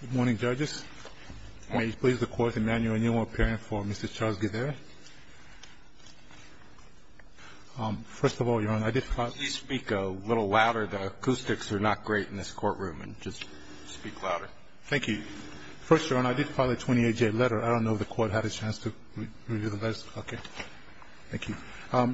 Good morning, judges. May you please record the manual appearing for Mr. Charles Githere. First of all, Your Honor, I did file a... Please speak a little louder. The acoustics are not great in this courtroom, and just speak louder. Thank you. First, Your Honor, I did file a 28-J letter. I don't know if the court had a chance to review the letter. Okay. Thank you.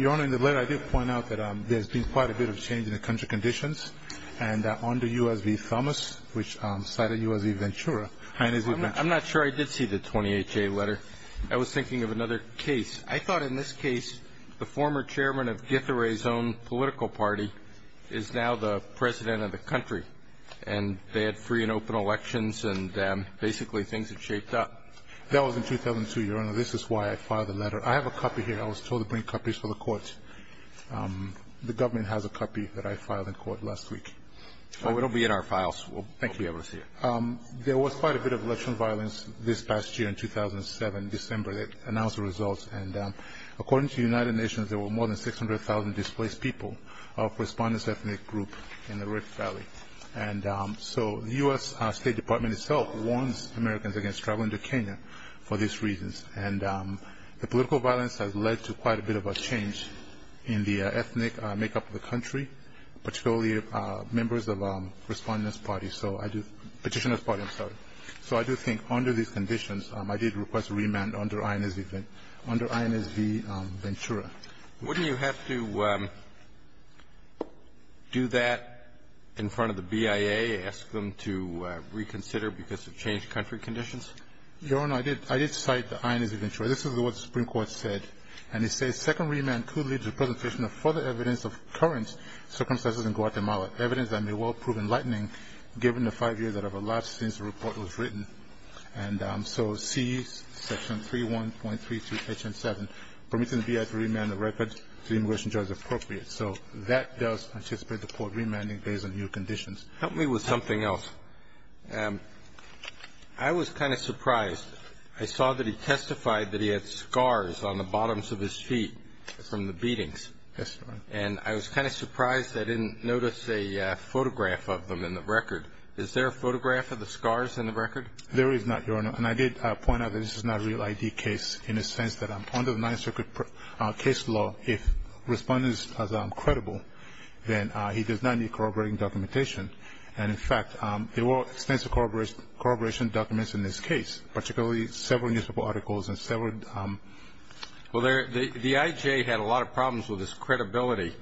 Your Honor, in the letter I did point out that there's been quite a bit of change in the country conditions, and under U.S. v. Thomas, which cited U.S. v. Ventura... I'm not sure I did see the 28-J letter. I was thinking of another case. I thought in this case the former chairman of Githere's own political party is now the president of the country, and they had free and open elections, and basically things had shaped up. That was in 2002, Your Honor. This is why I filed the letter. I have a copy here. I was told to bring copies for the court. The government has a copy that I filed in court last week. It will be in our files. We'll be able to see it. There was quite a bit of election violence this past year in 2007, December. They announced the results, and according to the United Nations, there were more than 600,000 displaced people of respondents' ethnic group in the Red Valley. And so the U.S. State Department itself warns Americans against traveling to Kenya for these reasons, and the political violence has led to quite a bit of a change in the ethnic makeup of the country, particularly members of respondents' party, petitioners' party, I'm sorry. So I do think under these conditions, I did request a remand under INS v. Ventura. Wouldn't you have to do that in front of the BIA, ask them to reconsider because of changed country conditions? Your Honor, I did cite the INS v. Ventura. This is what the Supreme Court said. And it says, Second remand could lead to the presentation of further evidence of current circumstances in Guatemala, evidence that may well prove enlightening given the five years that have elapsed since the report was written. And so C, Section 3.1.3.7, permitting the BIA to remand the record to the immigration judge appropriate. So that does anticipate the court remanding based on new conditions. Help me with something else. Your Honor, I was kind of surprised. I saw that he testified that he had scars on the bottoms of his feet from the beatings. Yes, Your Honor. And I was kind of surprised I didn't notice a photograph of them in the record. Is there a photograph of the scars in the record? There is not, Your Honor. And I did point out that this is not a real ID case in the sense that under the Ninth Circuit case law, if respondents are credible, then he does not need corroborating documentation. And, in fact, there were extensive corroboration documents in this case, particularly several newspaper articles and several... Well, the IJ had a lot of problems with his credibility.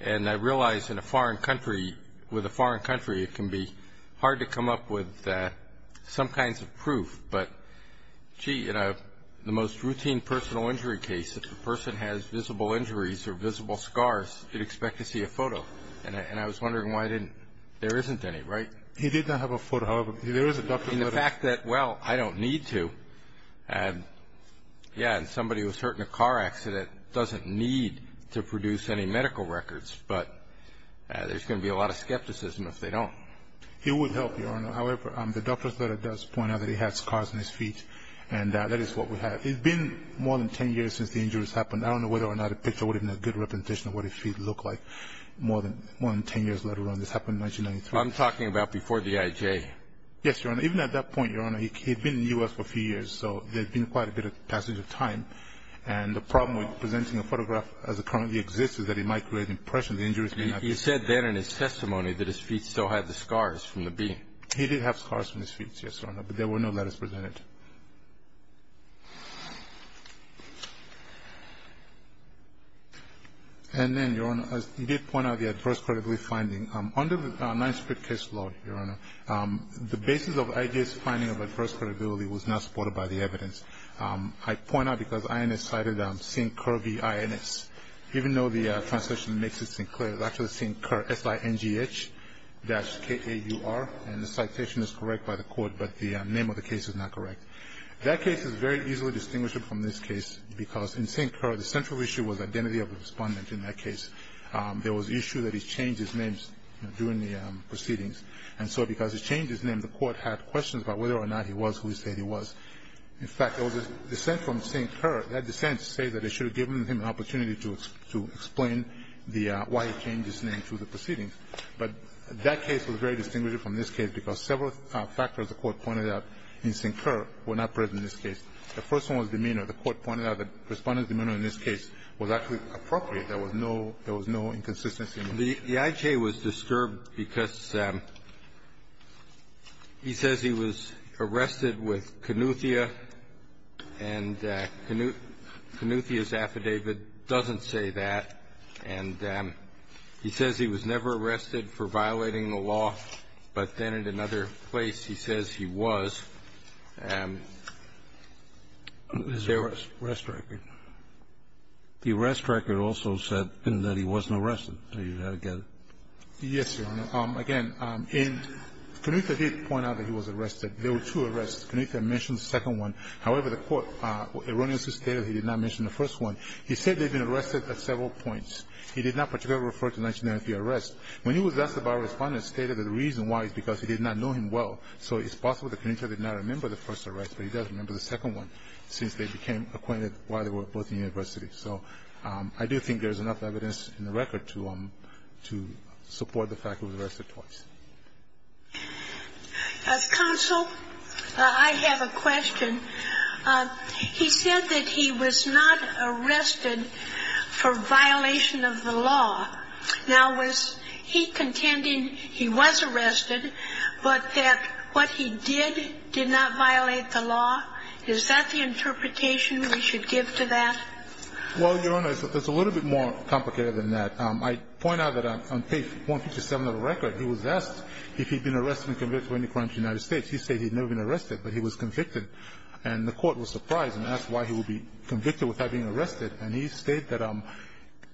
And I realize in a foreign country, with a foreign country, it can be hard to come up with some kinds of proof. But, gee, in the most routine personal injury case, if the person has visible injuries or visible scars, you'd expect to see a photo. And I was wondering why I didn't... there isn't any, right? He did not have a photo. However, there is a doctor's letter. In the fact that, well, I don't need to. Yeah, and somebody who was hurt in a car accident doesn't need to produce any medical records. But there's going to be a lot of skepticism if they don't. It would help, Your Honor. However, the doctor's letter does point out that he has scars on his feet, and that is what we have. It's been more than 10 years since the injuries happened. I don't know whether or not a picture would have been a good representation of what his feet look like more than 10 years later. This happened in 1993. I'm talking about before the IJ. Yes, Your Honor. Even at that point, Your Honor, he had been in the U.S. for a few years, so there had been quite a bit of passage of time. And the problem with presenting a photograph as it currently exists is that it might create an impression that the injury has been... You said then in his testimony that his feet still had the scars from the beating. He did have scars from his feet, yes, Your Honor, but there were no letters presented. And then, Your Honor, you did point out the adverse credibility finding. Under the Ninth Street case law, Your Honor, the basis of IJ's finding of adverse credibility was not supported by the evidence. I point out because INS cited Singh-Kerr v. INS. Even though the translation makes this thing clear, it's actually Singh-Kerr, S-I-N-G-H dash K-A-U-R, and the citation is correct by the court, but the name of the case is not correct. That case is very easily distinguished from this case because in Singh-Kerr, the central issue was identity of the respondent in that case. There was an issue that he changed his name during the proceedings. And so because he changed his name, the court had questions about whether or not he was who he said he was. In fact, there was a dissent from Singh-Kerr. That dissent said that it should have given him an opportunity to explain why he changed his name through the proceedings. But that case was very distinguished from this case because several factors the court pointed out in Singh-Kerr were not present in this case. The first one was demeanor. The court pointed out the respondent's demeanor in this case was actually appropriate. There was no – there was no inconsistency. The IJ was disturbed because he says he was arrested with Kanuthia, and Kanuthia's was never arrested for violating the law. But then in another place, he says he was. And there was a rest record. The rest record also said that he wasn't arrested. Do you get it? Yes, Your Honor. Again, in – Kanuthia did point out that he was arrested. There were two arrests. Kanuthia mentioned the second one. However, the court erroneously stated he did not mention the first one. He said they had been arrested at several points. He did not particularly refer to the 1993 arrest. When he was asked about it, the respondent stated that the reason why is because he did not know him well. So it's possible that Kanuthia did not remember the first arrest, but he does remember the second one, since they became acquainted while they were both in university. So I do think there's enough evidence in the record to support the fact that he was arrested twice. Counsel, I have a question. He said that he was not arrested for violation of the law. Now, was he contending he was arrested, but that what he did did not violate the law? Is that the interpretation we should give to that? Well, Your Honor, it's a little bit more complicated than that. I point out that on page 157 of the record, he was asked if he had been arrested and convicted of any crime in the United States. He said he had never been arrested, but he was convicted. And the court was surprised and asked why he would be convicted without being arrested. And he stated that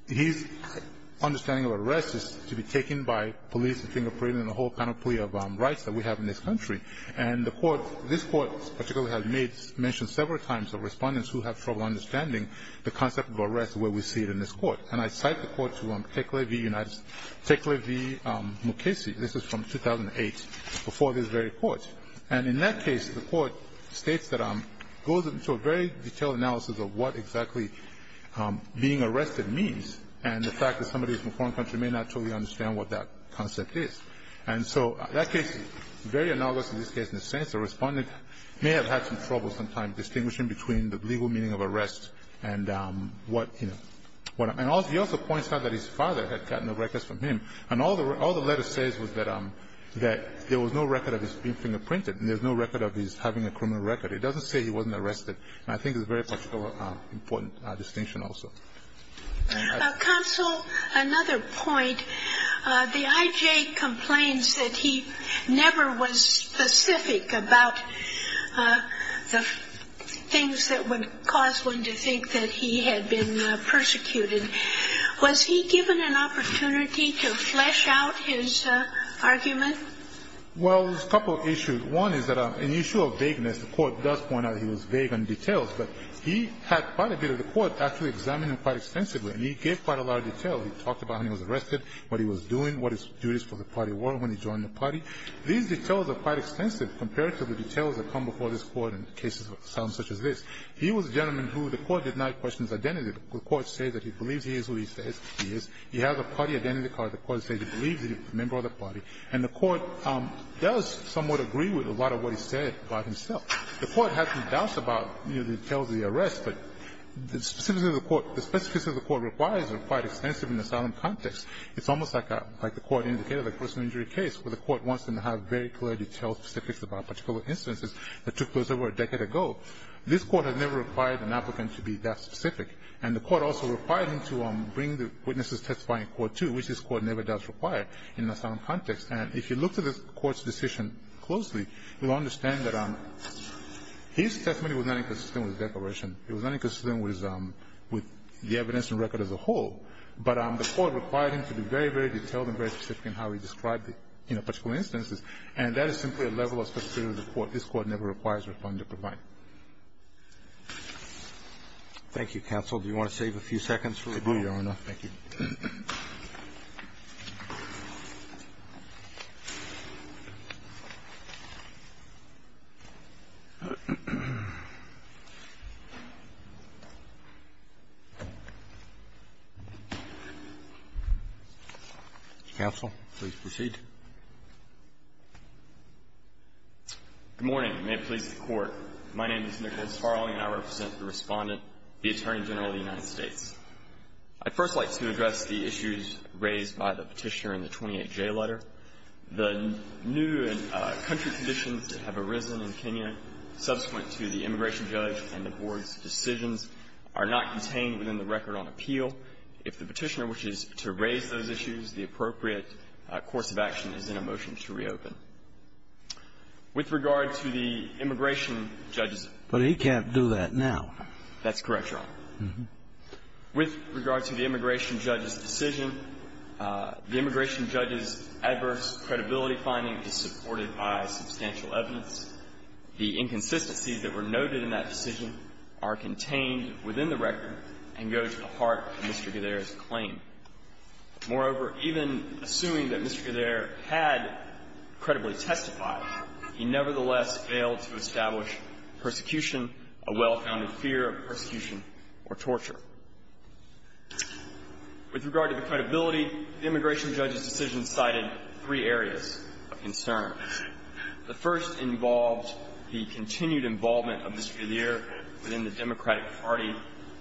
his understanding of arrest is to be taken by police and fingerprinting and the whole panoply of rights that we have in this country. And the court, this court in particular, has mentioned several times that respondents who have trouble understanding the concept of arrest is the way we see it in this court. And I cite the court to Tekle v. Mukasey. This is from 2008, before this very court. And in that case, the court states that it goes into a very detailed analysis of what exactly being arrested means and the fact that somebody from a foreign country may not totally understand what that concept is. And so that case is very analogous in this case in the sense that a respondent may have had some trouble sometimes distinguishing between the legal meaning of arrest and what, you know. And he also points out that his father had gotten the records from him. And all the letter says was that there was no record of his being fingerprinted and there was no record of his having a criminal record. It doesn't say he wasn't arrested. And I think it's very much of an important distinction also. Counsel, another point. The I.J. complains that he never was specific about the things that would cause one to think that he had been persecuted. Was he given an opportunity to flesh out his argument? Well, there's a couple of issues. One is that an issue of vagueness. The court does point out he was vague on details. But he had quite a bit of the court actually examine him quite extensively. And he gave quite a lot of detail. He talked about how he was arrested, what he was doing, what his duties for the party were when he joined the party. These details are quite extensive compared to the details that come before this Court in cases such as this. He was a gentleman who the Court did not question his identity. The Court says that he believes he is who he says he is. He has a party identity card. The Court says he believes that he's a member of the party. And the Court does somewhat agree with a lot of what he said about himself. The Court has some doubts about, you know, the details of the arrest. But the specifics of the Court requires are quite extensive in the asylum context. It's almost like the Court indicated the personal injury case where the Court wants them to have very clear detailed specifics about particular instances that took place over a decade ago. This Court has never required an applicant to be that specific. And the Court also required him to bring the witnesses testifying in Court 2, which this Court never does require in an asylum context. And if you look at the Court's decision closely, you'll understand that his testimony was not inconsistent with the declaration. It was not inconsistent with the evidence and record as a whole. But the Court required him to be very, very detailed and very specific in how he described the, you know, particular instances. And that is simply a level of specificity that the Court, this Court, never requires or plans to provide. Roberts. Thank you, counsel. Do you want to save a few seconds for review, Your Honor? Thank you. Counsel, please proceed. Good morning. May it please the Court. My name is Nicholas Farley, and I represent the Respondent, the Attorney General of the United States. I'd first like to address the issues raised by the Petitioner in the 28J letter. The new country conditions that have arisen in Kenya subsequent to the immigration judge and the Board's decisions are not contained within the record on appeal. If the Petitioner wishes to raise those issues, the appropriate course of action is in a motion to reopen. With regard to the immigration judge's issues. But he can't do that now. That's correct, Your Honor. With regard to the immigration judge's decision, the immigration judge's adverse credibility finding is supported by substantial evidence. The inconsistencies that were noted in that decision are contained within the record and go to the heart of Mr. Gudera's claim. Moreover, even assuming that Mr. Gudera had credibly testified, he nevertheless failed to establish persecution, a well-founded fear of persecution or torture. With regard to the credibility, the immigration judge's decision cited three areas of concern. The first involved the continued involvement of Mr. Gudera within the Democratic Party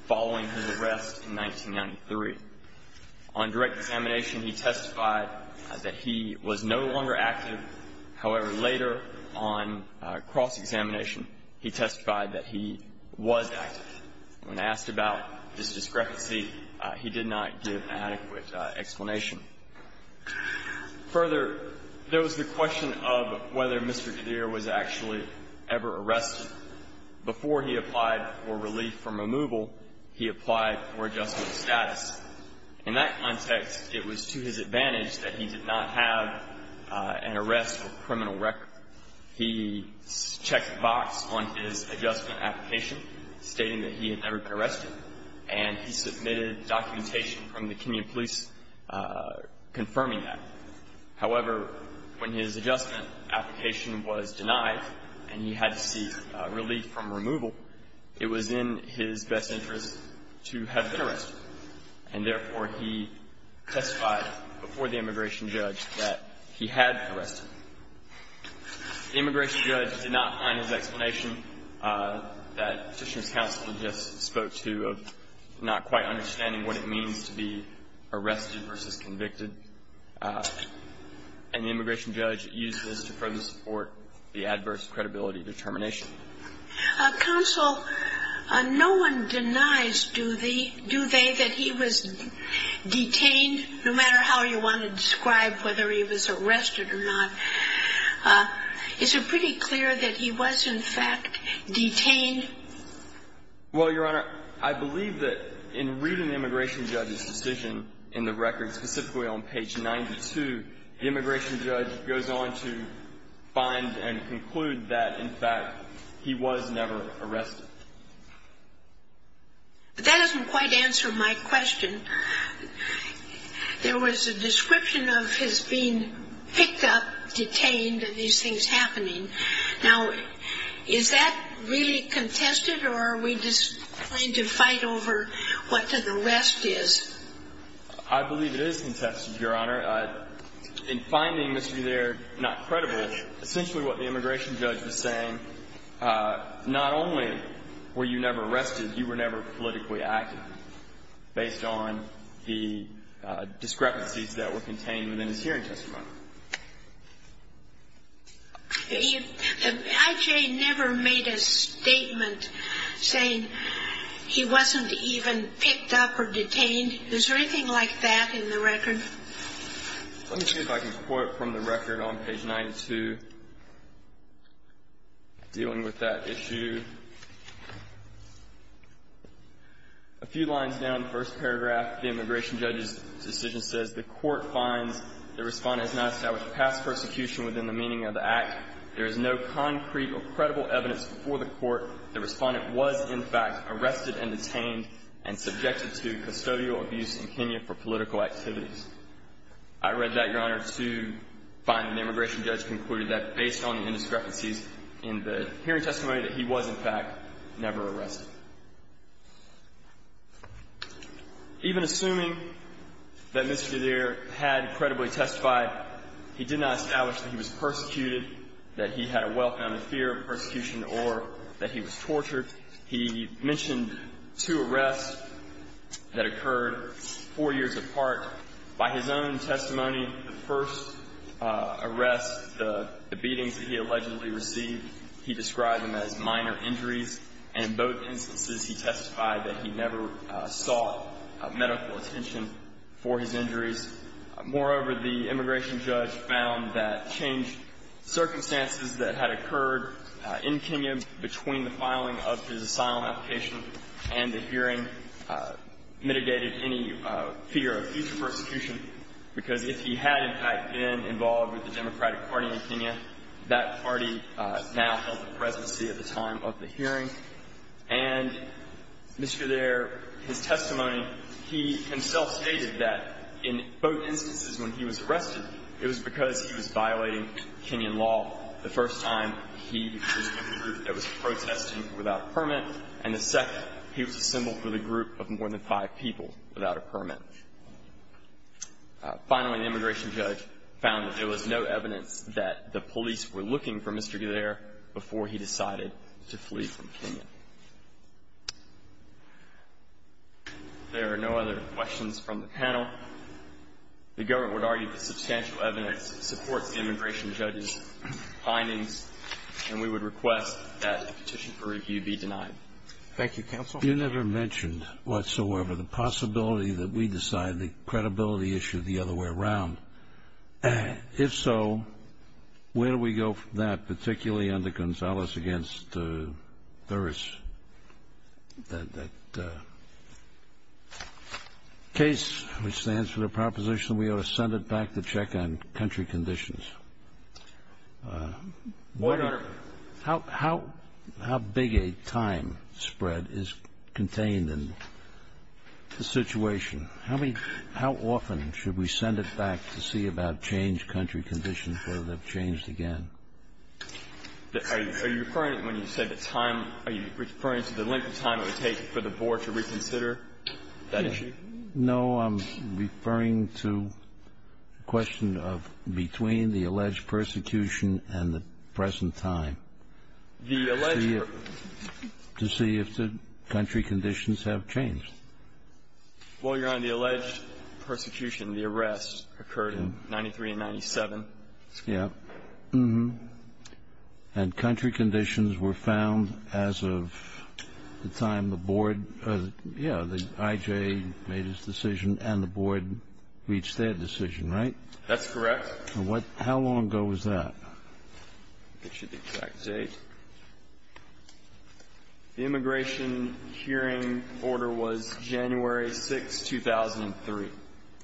following his arrest in 1993. On direct examination, he testified that he was no longer active. However, later on cross-examination, he testified that he was active. When asked about this discrepancy, he did not give an adequate explanation. Further, there was the question of whether Mr. Gudera was actually ever arrested. Before he applied for relief from removal, he applied for adjustment of status. In that context, it was to his advantage that he did not have an arrest or criminal record. He checked the box on his adjustment application stating that he had never been arrested, and he submitted documentation from the community police confirming that. However, when his adjustment application was denied and he had to seek relief from removal, and therefore he testified before the immigration judge that he had been arrested. The immigration judge did not find his explanation that Petitioner's counsel just spoke to of not quite understanding what it means to be arrested versus convicted, and the immigration judge used this to further support the adverse credibility determination. Counsel, no one denies, do they, that he was detained, no matter how you want to describe whether he was arrested or not? Is it pretty clear that he was, in fact, detained? Well, Your Honor, I believe that in reading the immigration judge's decision in the record, specifically on page 92, the immigration judge goes on to find and conclude that, in fact, he was never arrested. But that doesn't quite answer my question. There was a description of his being picked up, detained, and these things happening. Now, is that really contested, or are we just going to fight over what the rest is? I believe it is contested, Your Honor. In finding Mr. Gutierrez not credible, essentially what the immigration judge was saying, not only were you never arrested, you were never politically active based on the discrepancies that were contained within his hearing testimony. If I.J. never made a statement saying he wasn't even picked up or detained, is there anything like that in the record? Let me see if I can quote from the record on page 92, dealing with that issue. A few lines down, the first paragraph, the immigration judge's decision says, the court finds the Respondent has not established past persecution within the meaning of the act. There is no concrete or credible evidence before the court the Respondent was, in fact, arrested and detained and subjected to custodial abuse in Kenya for political activities. I read that, Your Honor, to find the immigration judge concluded that based on the indiscrepancies in the hearing testimony that he was, in fact, never arrested. Even assuming that Mr. Gutierrez had credibly testified, he did not establish that he was persecuted, that he had a well-founded fear of persecution, or that he was tortured. He mentioned two arrests that occurred four years apart. By his own testimony, the first arrest, the beatings that he allegedly received, he described them as minor injuries, and in both instances he testified that he never sought medical attention for his injuries. Moreover, the immigration judge found that changed circumstances that had occurred in Kenya between the filing of his asylum application and the hearing mitigated any fear of future persecution, because if he had, in fact, been involved with the Democratic Party in Kenya, that party now held the presidency at the time of the hearing. And, Mr. Thayer, his testimony, he himself stated that in both instances when he was arrested, it was because he was violating Kenyan law. The first time, he was with a group that was protesting without a permit, and the second, he was a symbol for the group of more than five people without a permit. Finally, the immigration judge found that there was no evidence that the police were looking for Mr. Gutierrez before he decided to flee from Kenya. There are no other questions from the panel. The government would argue that substantial evidence supports the immigration judge's findings, and we would request that a petition for review be denied. Thank you, counsel. You never mentioned whatsoever the possibility that we decide the credibility issue the other way around. If so, where do we go from that, particularly under Gonzales against Thuris, that case, which stands for the proposition we ought to send it back to check on country conditions? Your Honor. How big a time spread is contained in the situation? How often should we send it back to see about changed country conditions, whether they've changed again? Are you referring, when you say the time, are you referring to the length of time it would take for the board to reconsider that issue? No, I'm referring to the question of between the alleged persecution and the present time. To see if the country conditions have changed. Well, Your Honor, the alleged persecution, the arrest, occurred in 93 and 97. And country conditions were found as of the time the board, yeah, the IJ made its decision, and the board reached their decision, right? That's correct. How long ago was that? I'll get you the exact date. The immigration hearing order was January 6, 2003.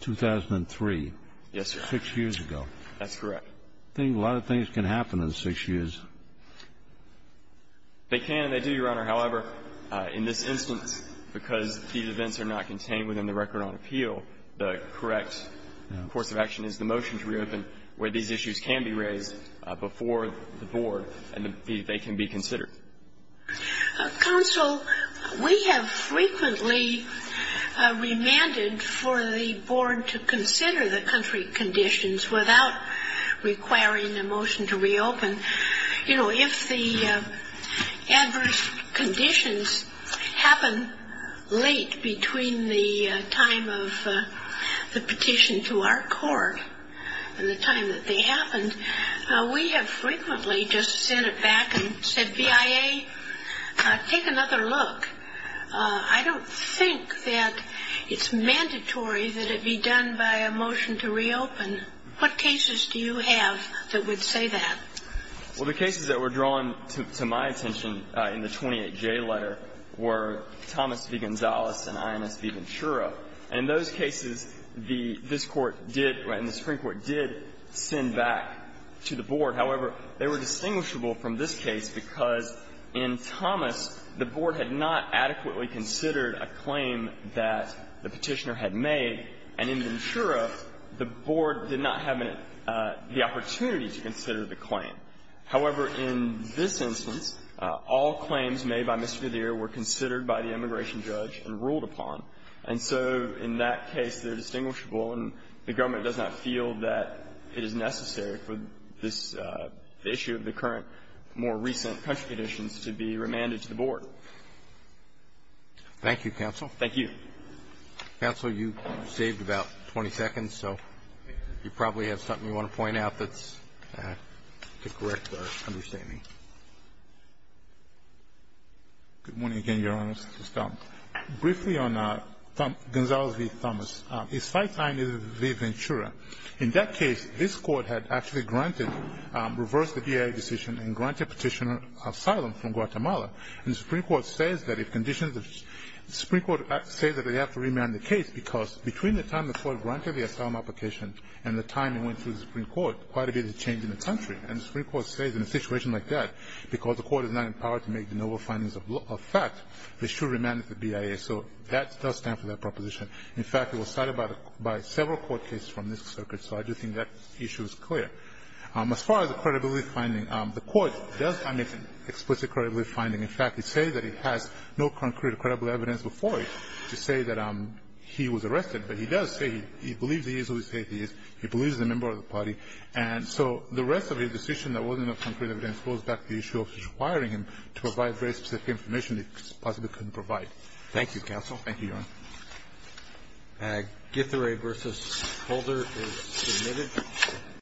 2003. Yes, Your Honor. Six years ago. That's correct. I think a lot of things can happen in six years. They can and they do, Your Honor. However, in this instance, because these events are not contained within the record on appeal, the correct course of action is the motion to reopen where these issues can be raised before the board and they can be considered. Counsel, we have frequently remanded for the board to consider the country conditions without requiring a motion to reopen. You know, if the adverse conditions happen late between the time of the petition to our court and the time that they happened, we have frequently just sent it back and said, BIA, take another look. I don't think that it's mandatory that it be done by a motion to reopen. What cases do you have that would say that? Well, the cases that were drawn to my attention in the 28J letter were Thomas v. Gonzales and Inos v. Ventura. And in those cases, this Court did, and the Supreme Court did, send back to the board. However, they were distinguishable from this case because in Thomas, the board had not adequately considered a claim that the petitioner had made, and in Ventura, the board did not have the opportunity to consider the claim. However, in this instance, all claims made by Mr. Verdeer were considered by the immigration judge and ruled upon. And so in that case, they're distinguishable, and the government does not feel that it is necessary for this issue of the current, more recent country petitions to be remanded to the board. Thank you, counsel. Thank you. Counsel, you saved about 20 seconds, so you probably have something you want to point out that's to correct our understanding. Good morning again, Your Honor. Briefly on Gonzales v. Thomas. His fight time is with Ventura. In that case, this Court had actually granted, reversed the BIA decision and granted petitioner asylum from Guatemala. And the Supreme Court says that if conditions, the Supreme Court says that they have to remand the case because between the time the Court granted the asylum application and the time it went to the Supreme Court, quite a bit has changed in the country. And the Supreme Court says in a situation like that, because the Court is not empowered to make the noble findings of fact, they should remand it to BIA. So that does stand for that proposition. In fact, it was cited by several court cases from this circuit. So I do think that issue is clear. As far as the credibility finding, the Court does omit explicit credibility finding. In fact, it says that it has no concrete credible evidence before it to say that he was arrested, but he does say he believes he is who he says he is. He believes he's a member of the party. And so the rest of his decision that wasn't of concrete evidence goes back to the issue of requiring him to provide very specific information he possibly couldn't provide. Thank you, counsel. Roberts. Thank you, Your Honor. Githera versus Holder is submitted.